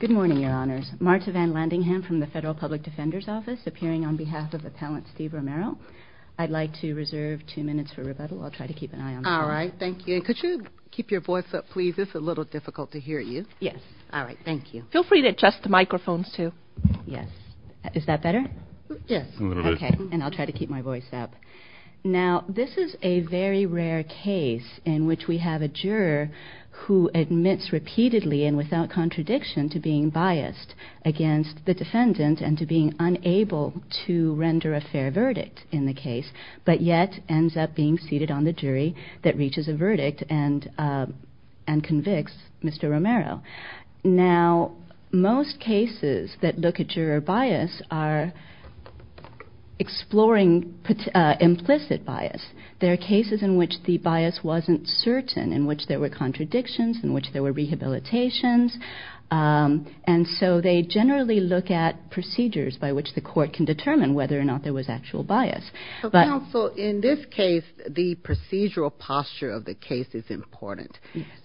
Good morning, Your Honors. Marta Van Landingham from the Federal Public Defender's Office, appearing on behalf of Appellant Steve Romero. I'd like to reserve two minutes for rebuttal. I'll try to keep an eye on the phone. All right. Thank you. And could you keep your voice up, please? It's a little difficult to hear you. Yes. All right. Thank you. Feel free to adjust the microphones, too. Yes. Is that better? Yes. Okay. And I'll try to keep my voice up. Now, this is a very rare case in which we have a juror who admits repeatedly and without contradiction to being biased against the defendant and to being unable to render a fair verdict in the case, but yet ends up being seated on the jury that reaches a verdict and convicts Mr. Romero. Now, most cases that look at juror bias are exploring implicit bias. There are cases in which the bias wasn't certain, in which there were contradictions, in which there were rehabilitations, and so they generally look at procedures by which the court can determine whether or not there was actual bias. So, counsel, in this case, the procedural posture of the case is important.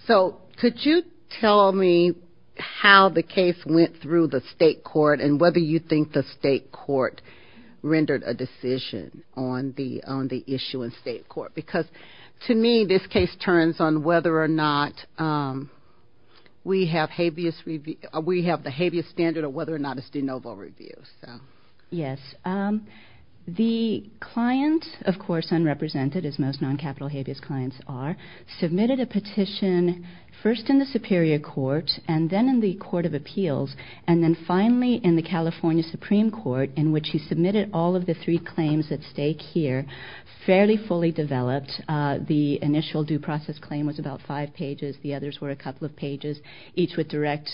So, could you tell me how the case went through the state court and whether you think the state court rendered a decision on the issue in state court? Because, to me, this case turns on whether or not we have the habeas standard or whether or not it's de novo review. Yes. The client, of course, unrepresented, as most non-capital habeas clients are, submitted a petition first in the Superior Court and then in the Court of Appeals and then finally in the California Supreme Court, in which he submitted all of the three claims at stake here fairly fully developed. The initial due process claim was about five pages. The others were a couple of pages, each with direct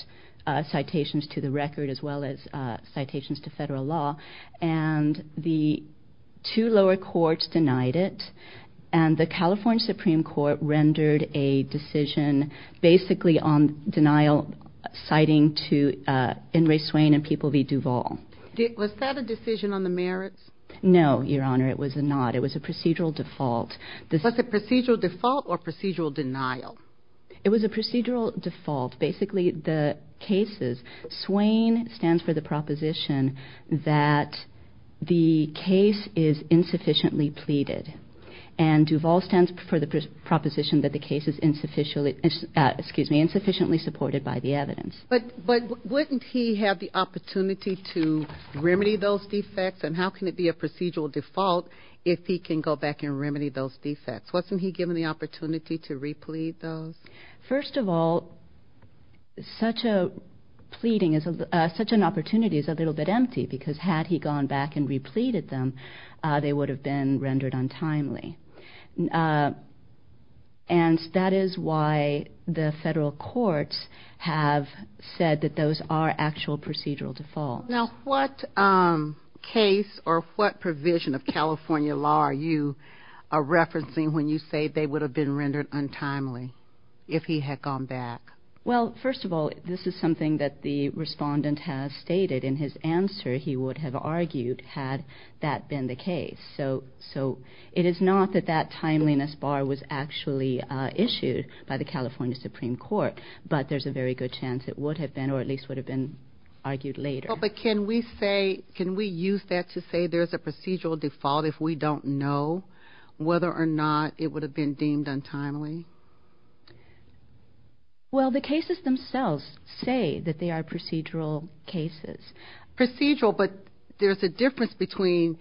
citations to the record as well as citations to federal law, and the two lower courts denied it, and the California Supreme Court rendered a decision basically on denial, citing to Ingray, Swain, and People v. Duvall. Was that a decision on the merits? No, Your Honor, it was not. It was a procedural default. Was it procedural default or procedural denial? It was a procedural default. Basically, the cases, Swain stands for the proposition that the case is insufficiently pleaded, and Duvall stands for the proposition that the case is insufficiently supported by the evidence. But wouldn't he have the opportunity to remedy those defects, and how can it be a procedural default if he can go back and remedy those defects? Wasn't he given the opportunity to replead those? First of all, such an opportunity is a little bit empty because had he gone back and repleaded them, they would have been rendered untimely, and that is why the federal courts have said that those are actual procedural defaults. Now, what case or what provision of California law are you referencing when you say they would have been rendered untimely if he had gone back? Well, first of all, this is something that the respondent has stated. In his answer, he would have argued had that been the case. So it is not that that timeliness bar was actually issued by the California Supreme Court, but there's a very good chance it would have been or at least would have been argued later. Well, but can we use that to say there's a procedural default if we don't know whether or not it would have been deemed untimely? Well, the cases themselves say that they are procedural cases. Procedural, but there's a difference between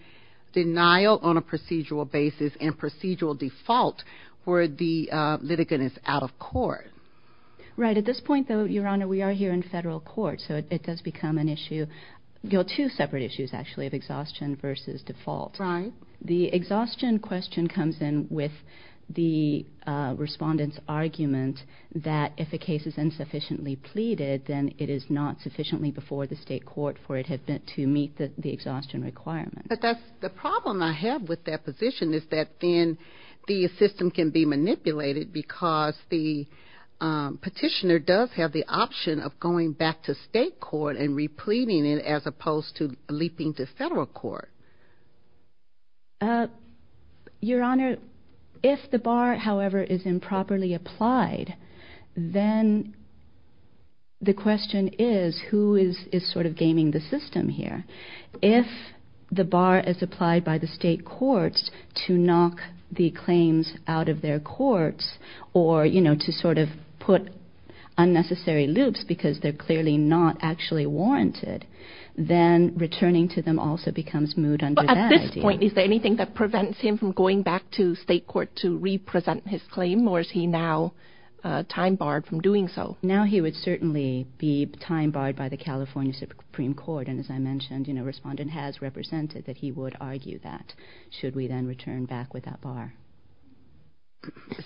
denial on a procedural basis and procedural default where the litigant is out of court. Right. At this point, though, Your Honor, we are here in federal court, so it does become an issue, two separate issues, actually, of exhaustion versus default. Right. The exhaustion question comes in with the respondent's argument that if a case is insufficiently pleaded, then it is not sufficiently before the state court for it to meet the exhaustion requirement. But the problem I have with that position is that then the system can be manipulated because the petitioner does have the option of going back to state court and repleting it as opposed to leaping to federal court. Your Honor, if the bar, however, is improperly applied, then the question is who is sort of gaming the system here. If the bar is applied by the state courts to knock the claims out of their courts or to sort of put unnecessary loops because they're clearly not actually warranted, then returning to them also becomes moot under that idea. But at this point, is there anything that prevents him from going back to state court to represent his claim, or is he now time barred from doing so? Now he would certainly be time barred by the California Supreme Court. And as I mentioned, the respondent has represented that he would argue that, should we then return back with that bar.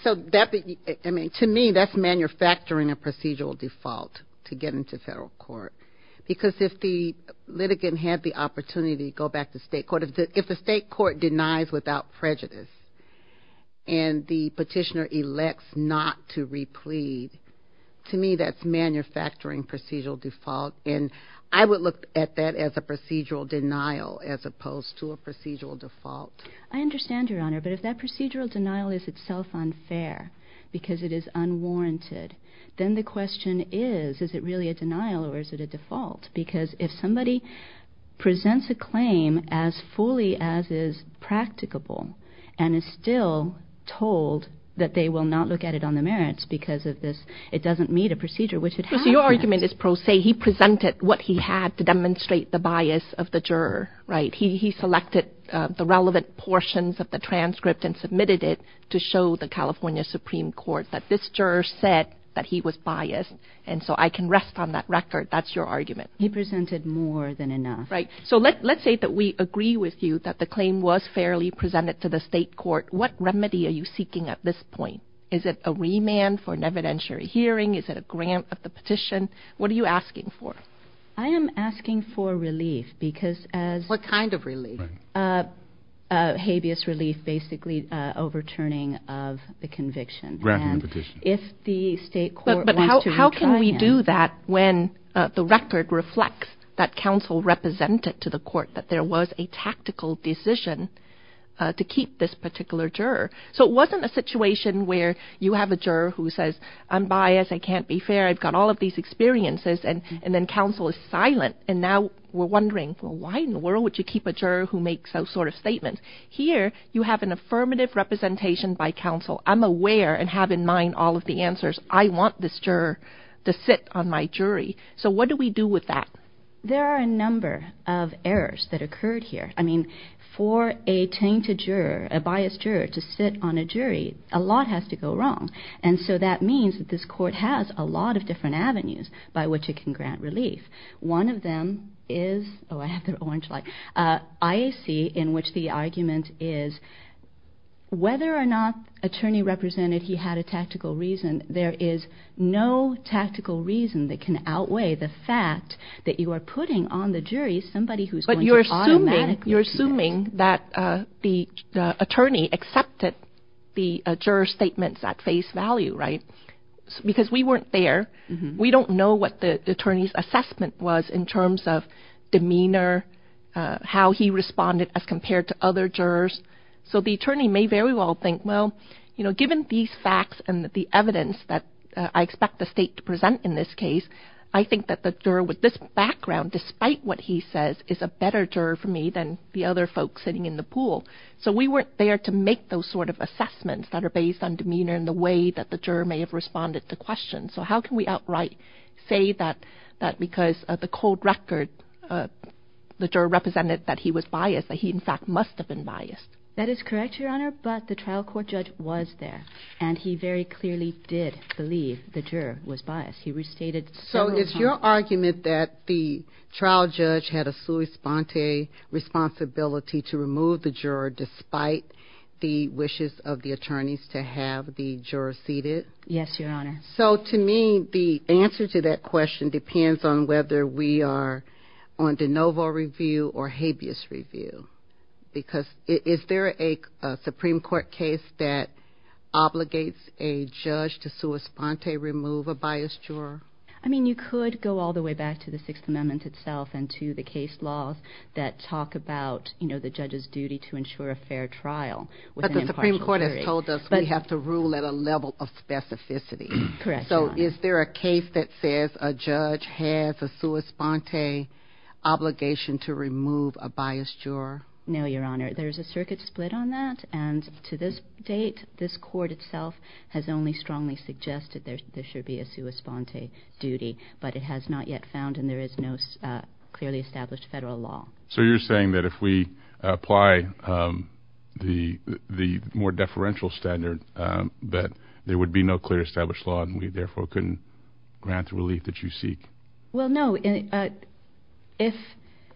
So to me, that's manufacturing a procedural default to get into federal court. Because if the litigant had the opportunity to go back to state court, if the state court denies without prejudice and the petitioner elects not to replete, to me that's manufacturing procedural default. And I would look at that as a procedural denial as opposed to a procedural default. I understand, Your Honor. But if that procedural denial is itself unfair because it is unwarranted, then the question is, is it really a denial or is it a default? Because if somebody presents a claim as fully as is practicable and is still told that they will not look at it on the merits because it doesn't meet a procedure, which it has met. So your argument is pro se. He presented what he had to demonstrate the bias of the juror, right? He selected the relevant portions of the transcript and submitted it to show the California Supreme Court that this juror said that he was biased. And so I can rest on that record. That's your argument. He presented more than enough. Right. So let's say that we agree with you that the claim was fairly presented to the state court. What remedy are you seeking at this point? Is it a remand for an evidentiary hearing? Is it a grant of the petition? What are you asking for? I am asking for relief because as... What kind of relief? Habeas relief, basically overturning of the conviction. Granting the petition. And if the state court wants to retry him. But how can we do that when the record reflects that counsel represented to the court that there was a tactical decision to keep this particular juror? So it wasn't a situation where you have a juror who says, I'm biased. I can't be fair. I've got all of these experiences. And then counsel is silent. And now we're wondering, well, why in the world would you keep a juror who makes those sort of statements? Here you have an affirmative representation by counsel. I'm aware and have in mind all of the answers. I want this juror to sit on my jury. So what do we do with that? There are a number of errors that occurred here. I mean, for a tainted juror, a biased juror, to sit on a jury, a lot has to go wrong. And so that means that this court has a lot of different avenues by which it can grant relief. One of them is, oh, I have the orange light, IAC in which the argument is whether or not attorney represented he had a tactical reason, there is no tactical reason that can outweigh the fact that you are putting on the jury somebody who's going to automatically... You're assuming that the attorney accepted the juror statements at face value, right? Because we weren't there. We don't know what the attorney's assessment was in terms of demeanor, how he responded as compared to other jurors. So the attorney may very well think, well, you know, given these facts and the evidence that I expect the state to present in this case, I think that the juror with this background, despite what he says, is a better juror for me than the other folks sitting in the pool. So we weren't there to make those sort of assessments that are based on demeanor and the way that the juror may have responded to questions. So how can we outright say that because of the cold record, the juror represented that he was biased, that he in fact must have been biased? That is correct, Your Honor, but the trial court judge was there, and he very clearly did believe the juror was biased. He restated several times. So is your argument that the trial judge had a sua sponte responsibility to remove the juror despite the wishes of the attorneys to have the juror seated? Yes, Your Honor. So to me, the answer to that question depends on whether we are on de novo review or habeas review. Because is there a Supreme Court case that obligates a judge to sua sponte remove a biased juror? I mean, you could go all the way back to the Sixth Amendment itself and to the case laws that talk about, you know, the judge's duty to ensure a fair trial. But the Supreme Court has told us we have to rule at a level of specificity. Correct, Your Honor. Is there a case that says a judge has a sua sponte obligation to remove a biased juror? No, Your Honor. There is a circuit split on that, and to this date, this court itself has only strongly suggested there should be a sua sponte duty. But it has not yet found, and there is no clearly established federal law. So you're saying that if we apply the more deferential standard that there would be no clearly established law and we therefore couldn't grant the relief that you seek? Well, no.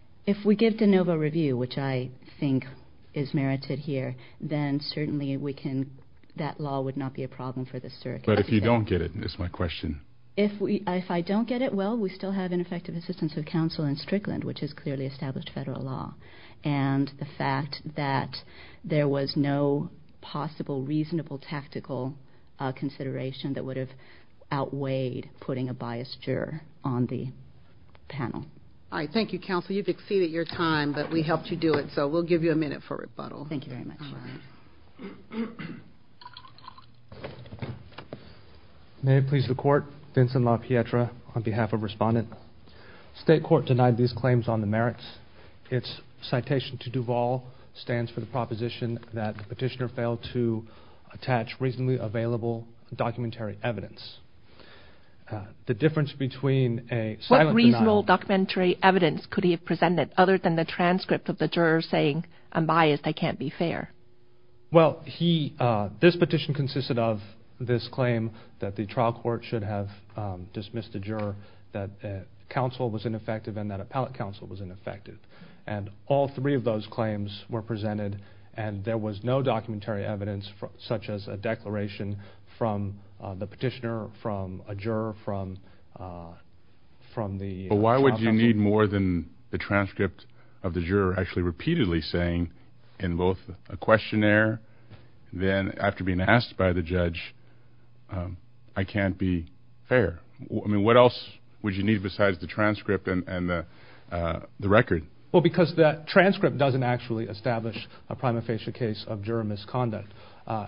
If we give de novo review, which I think is merited here, then certainly we can, that law would not be a problem for the circuit. But if you don't get it, is my question. If I don't get it, well, we still have ineffective assistance of counsel in Strickland, which is clearly established federal law. And the fact that there was no possible reasonable tactical consideration that would have outweighed putting a biased juror on the panel. All right. Thank you, counsel. You've exceeded your time, but we helped you do it, so we'll give you a minute for rebuttal. Thank you very much, Your Honor. All right. May it please the Court. Vincent LaPietra on behalf of Respondent. State court denied these claims on the merits. Its citation to Duvall stands for the proposition that the petitioner failed to attach reasonably available documentary evidence. The difference between a silent denial. What reasonable documentary evidence could he have presented other than the transcript of the juror saying, I'm biased, I can't be fair? Well, this petition consisted of this claim that the trial court should have dismissed the juror that counsel was ineffective and that appellate counsel was ineffective. And all three of those claims were presented, and there was no documentary evidence such as a declaration from the petitioner, from a juror, from the trial counsel. But why would you need more than the transcript of the juror actually repeatedly saying in both a questionnaire, then after being asked by the judge, I can't be fair? I mean, what else would you need besides the transcript and the record? Well, because that transcript doesn't actually establish a prima facie case of juror misconduct.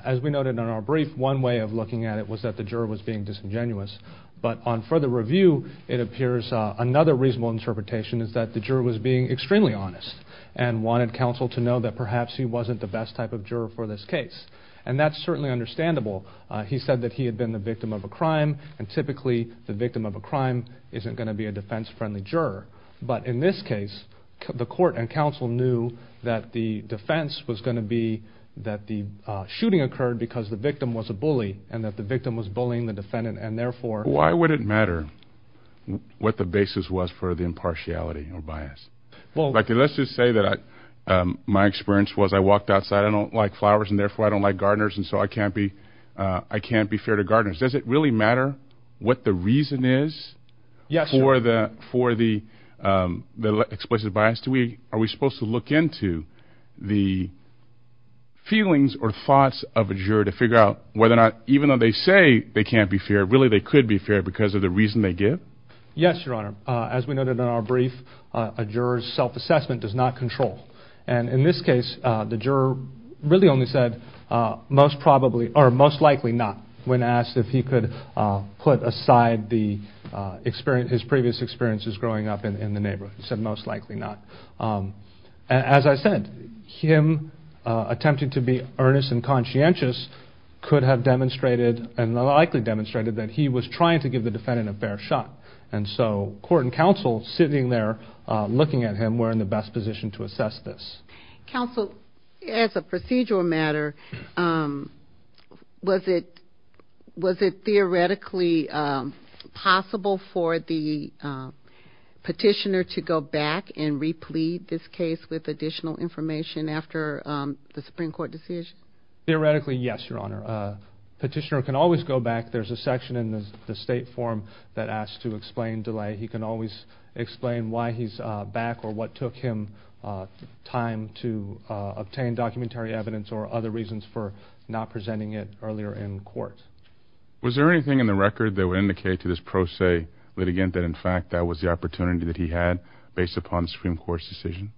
As we noted in our brief, one way of looking at it was that the juror was being disingenuous. But on further review, it appears another reasonable interpretation is that the juror was being extremely honest and wanted counsel to know that perhaps he wasn't the best type of juror for this case. And that's certainly understandable. He said that he had been the victim of a crime, and typically the victim of a crime isn't going to be a defense-friendly juror. But in this case, the court and counsel knew that the defense was going to be that the shooting occurred because the victim was a bully, and that the victim was bullying the defendant, and therefore… Why would it matter what the basis was for the impartiality or bias? Let's just say that my experience was I walked outside, I don't like flowers, and therefore I don't like gardeners, and so I can't be fair to gardeners. Does it really matter what the reason is for the explicit bias? Are we supposed to look into the feelings or thoughts of a juror to figure out whether or not, even though they say they can't be fair, really they could be fair because of the reason they give? Yes, Your Honor. As we noted in our brief, a juror's self-assessment does not control. And in this case, the juror really only said most likely not when asked if he could put aside his previous experiences growing up in the neighborhood. He said most likely not. As I said, him attempting to be earnest and conscientious could have demonstrated, and likely demonstrated, that he was trying to give the defendant a fair shot. And so court and counsel sitting there looking at him were in the best position to assess this. Counsel, as a procedural matter, was it theoretically possible for the petitioner to go back and replete this case with additional information after the Supreme Court decision? Theoretically, yes, Your Honor. The petitioner can always go back. There's a section in the state form that asks to explain delay. He can always explain why he's back or what took him time to obtain documentary evidence or other reasons for not presenting it earlier in court. Was there anything in the record that would indicate to this pro se litigant that, in fact, that was the opportunity that he had based upon the Supreme Court's decision?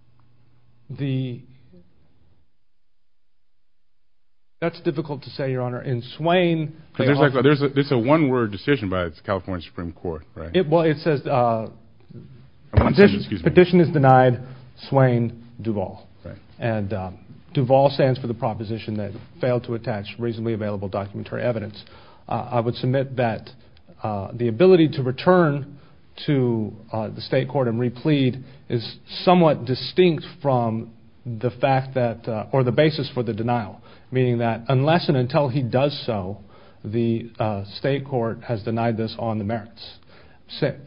That's difficult to say, Your Honor. In Swain... There's a one-word decision by the California Supreme Court. Well, it says petition is denied, Swain, Duval. And Duval stands for the proposition that failed to attach reasonably available documentary evidence. I would submit that the ability to return to the state court and replete is somewhat distinct from the fact that... or the basis for the denial, meaning that unless and until he does so, the state court has denied this on the merits.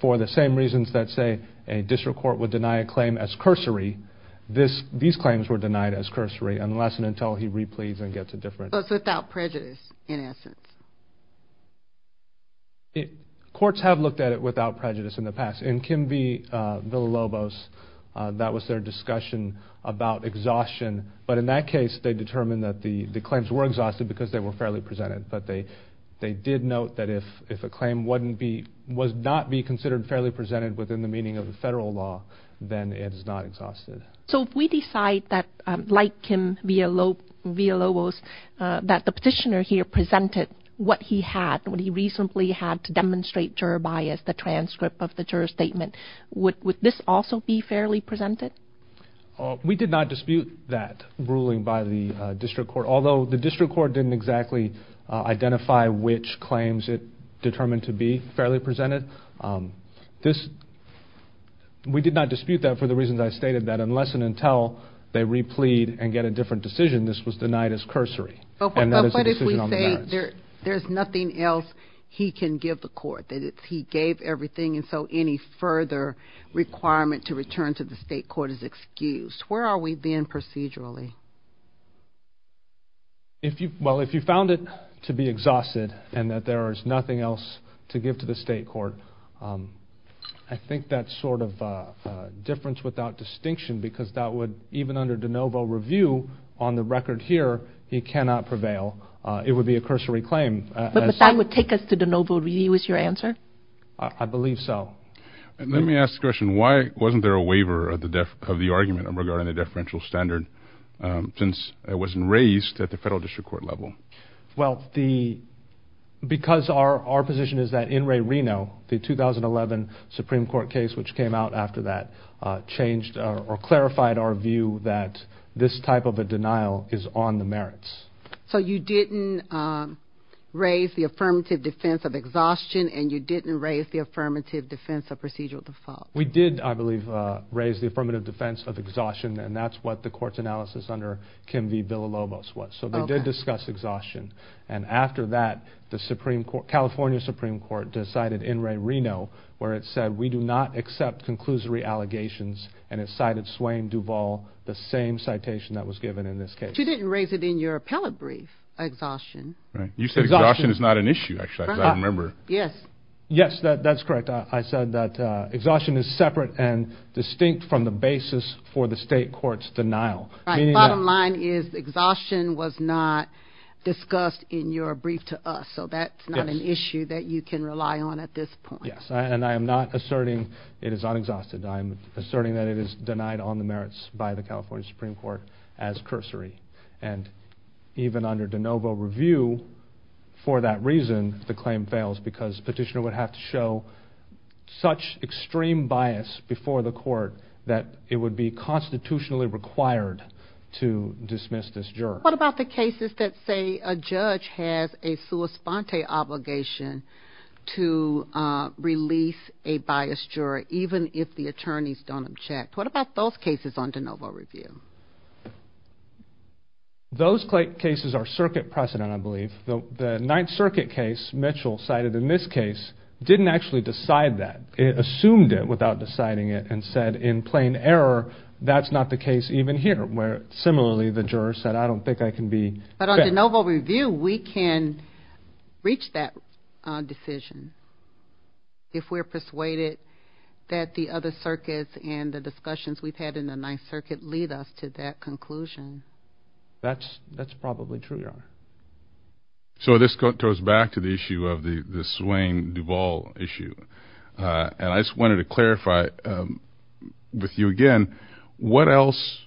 For the same reasons that, say, a district court would deny a claim as cursory, these claims were denied as cursory unless and until he repletes and gets a different... without prejudice, in essence. Courts have looked at it without prejudice in the past. In Kim v. Villalobos, that was their discussion about exhaustion. But in that case, they determined that the claims were exhausted because they were fairly presented. But they did note that if a claim would not be considered fairly presented within the meaning of the federal law, then it is not exhausted. So if we decide that, like Kim v. Villalobos, that the petitioner here presented what he had, what he reasonably had to demonstrate juror bias, the transcript of the juror statement, would this also be fairly presented? We did not dispute that ruling by the district court, although the district court didn't exactly identify which claims it determined to be fairly presented. We did not dispute that for the reasons I stated, that unless and until they replete and get a different decision, this was denied as cursory. And that is a decision on the merits. But what if we say there's nothing else he can give the court, that he gave everything, and so any further requirement to return to the state court is excused? Where are we then procedurally? Well, if you found it to be exhausted and that there is nothing else to give to the state court, I think that's sort of difference without distinction because that would, even under de novo review on the record here, he cannot prevail. It would be a cursory claim. But that would take us to de novo review is your answer? I believe so. And let me ask the question, why wasn't there a waiver of the argument regarding the deferential standard since it wasn't raised at the federal district court level? Well, because our position is that in Ray Reno, the 2011 Supreme Court case, which came out after that, changed or clarified our view that this type of a denial is on the merits. So you didn't raise the affirmative defense of exhaustion and you didn't raise the affirmative defense of procedural default? We did, I believe, raise the affirmative defense of exhaustion, and that's what the court's analysis under Kim V. Villalobos was. So they did discuss exhaustion. And after that, the California Supreme Court decided in Ray Reno where it said, we do not accept conclusory allegations, and it cited Swain Duvall, the same citation that was given in this case. But you didn't raise it in your appellate brief, exhaustion. You said exhaustion is not an issue, as I remember. Yes, that's correct. I said that exhaustion is separate and distinct from the basis for the state court's denial. Bottom line is exhaustion was not discussed in your brief to us, so that's not an issue that you can rely on at this point. Yes, and I am not asserting it is unexhausted. I'm asserting that it is denied on the merits by the California Supreme Court as cursory. And even under de novo review for that reason, the claim fails because petitioner would have to show such extreme bias before the court that it would be constitutionally required to dismiss this juror. What about the cases that say a judge has a sua sponte obligation to release a biased juror even if the attorneys don't object? What about those cases under de novo review? Those cases are circuit precedent, I believe. The Ninth Circuit case Mitchell cited in this case didn't actually decide that. It assumed it without deciding it and said in plain error, that's not the case even here, where similarly the juror said, I don't think I can be... But under de novo review, we can reach that decision if we're persuaded that the other circuits and the discussions we've had in the Ninth Circuit lead us to that conclusion. That's probably true, Your Honor. So this goes back to the issue of the Swain-Duvall issue. And I just wanted to clarify with you again, what else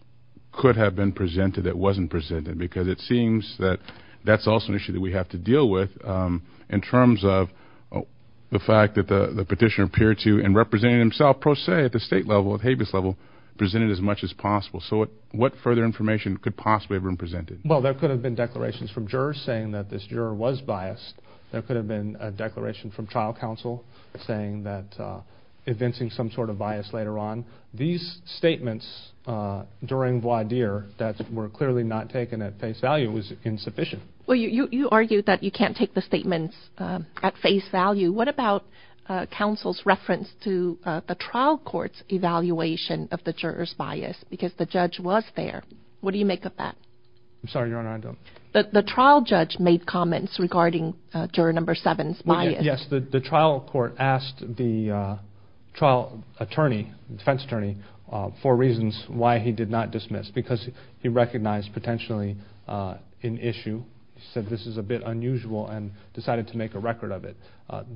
could have been presented that wasn't presented? Because it seems that that's also an issue that we have to deal with in terms of the fact that the petitioner appeared to, and represented himself pro se at the state level, at Habeas level, presented as much as possible. So what further information could possibly have been presented? Well, there could have been declarations from jurors saying that this juror was biased. There could have been a declaration from trial counsel saying that evincing some sort of bias later on. These statements during voir dire that were clearly not taken at face value was insufficient. Well, you argued that you can't take the statements at face value. What about counsel's reference to the trial court's evaluation of the juror's bias? Because the judge was there. What do you make of that? I'm sorry, Your Honor, I don't... The trial judge made comments regarding juror number seven's bias. Yes, the trial court asked the trial attorney, defense attorney, for reasons why he did not dismiss, because he recognized potentially an issue. He said this is a bit unusual and decided to make a record of it.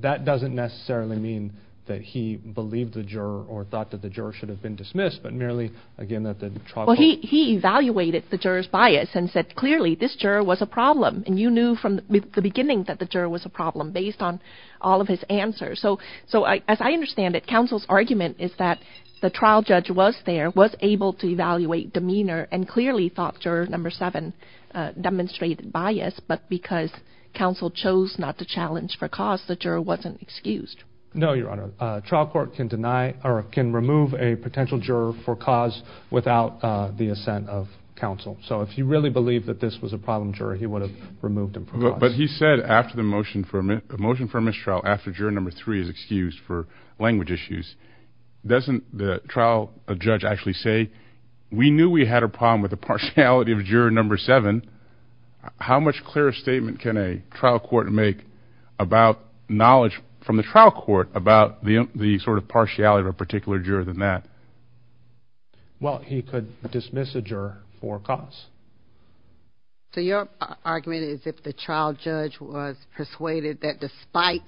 That doesn't necessarily mean that he believed the juror or thought that the juror should have been dismissed, but merely, again, that the trial court... Well, he evaluated the juror's bias and said clearly this juror was a problem, and you knew from the beginning that the juror was a problem based on all of his answers. So as I understand it, counsel's argument is that the trial judge was there, was able to evaluate demeanor, and clearly thought juror number seven demonstrated bias, but because counsel chose not to challenge for cause, the juror wasn't excused. No, Your Honor. Trial court can remove a potential juror for cause without the assent of counsel. So if he really believed that this was a problem juror, he would have removed him for cause. But he said after the motion for mistrial, after juror number three is excused for language issues, doesn't the trial judge actually say, we knew we had a problem with the partiality of juror number seven. How much clearer a statement can a trial court make about knowledge from the trial court about the sort of partiality of a particular juror than that? Well, he could dismiss a juror for cause. So your argument is if the trial judge was persuaded that despite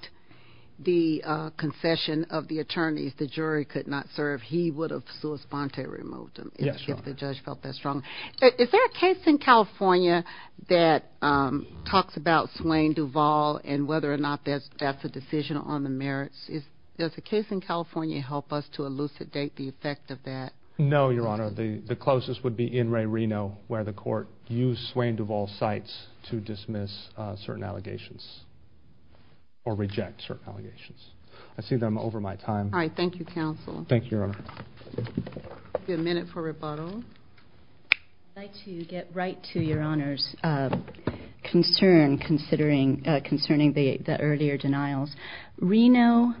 the concession of the attorneys, the jury could not serve, he would have sua sponte removed him. Yes, Your Honor. If the judge felt that strongly. Is there a case in California that talks about Swain Duvall and whether or not that's a decision on the merits? Does a case in California help us to elucidate the effect of that? No, Your Honor. The closest would be in Ray Reno where the court used Swain Duvall's sites to dismiss certain allegations or reject certain allegations. I see that I'm over my time. All right. Thank you, Your Honor. We have a minute for rebuttal. I'd like to get right to Your Honor's concern concerning the earlier denials. Reno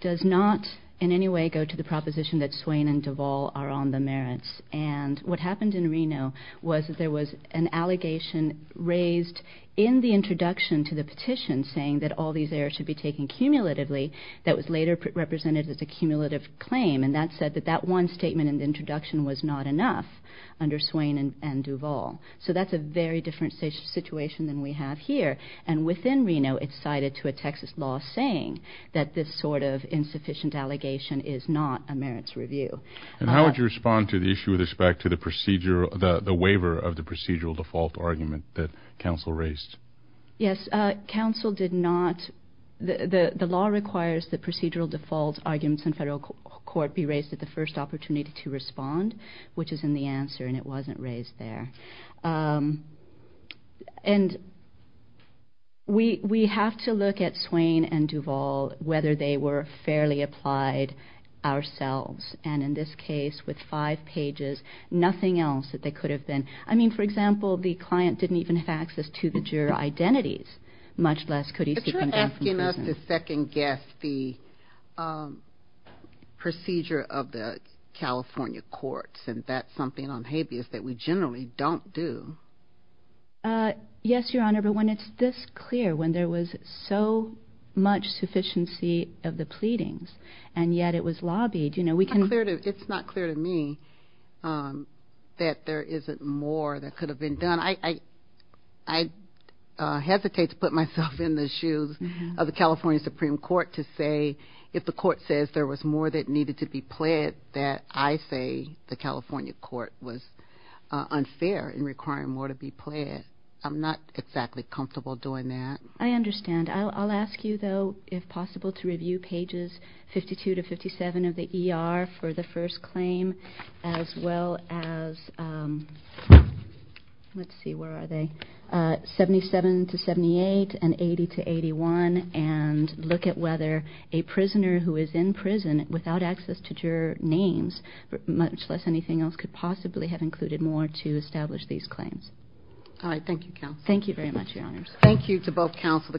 does not in any way go to the proposition that Swain and Duvall are on the merits. And what happened in Reno was that there was an allegation raised in the introduction to the petition saying that all these errors should be taken cumulatively that was later represented as a cumulative claim. And that said that that one statement in the introduction was not enough under Swain and Duvall. So that's a very different situation than we have here. And within Reno, it's cited to a Texas law saying that this sort of insufficient allegation is not a merits review. And how would you respond to the issue with respect to the procedure, the waiver of the procedural default argument that counsel raised? Yes. Counsel did not. The law requires that procedural default arguments in federal court be raised at the first opportunity to respond, which is in the answer, and it wasn't raised there. And we have to look at Swain and Duvall, whether they were fairly applied ourselves. And in this case, with five pages, nothing else that they could have been. I mean, for example, the client didn't even have access to the juror identities, much less could he seek an adjustment. But you're asking us to second-guess the procedure of the California courts, and that's something on habeas that we generally don't do. Yes, Your Honor, but when it's this clear, when there was so much sufficiency of the pleadings, and yet it was lobbied, you know, we can... It's not clear to me that there isn't more that could have been done. I hesitate to put myself in the shoes of the California Supreme Court to say, if the court says there was more that needed to be pled, that I say the California court was unfair in requiring more to be pled. I'm not exactly comfortable doing that. I understand. And I'll ask you, though, if possible, to review pages 52 to 57 of the ER for the first claim, as well as, let's see, where are they, 77 to 78 and 80 to 81, and look at whether a prisoner who is in prison without access to juror names, much less anything else, could possibly have included more to establish these claims. All right. Thank you, counsel. Thank you very much, Your Honors. Thank you to both counsel.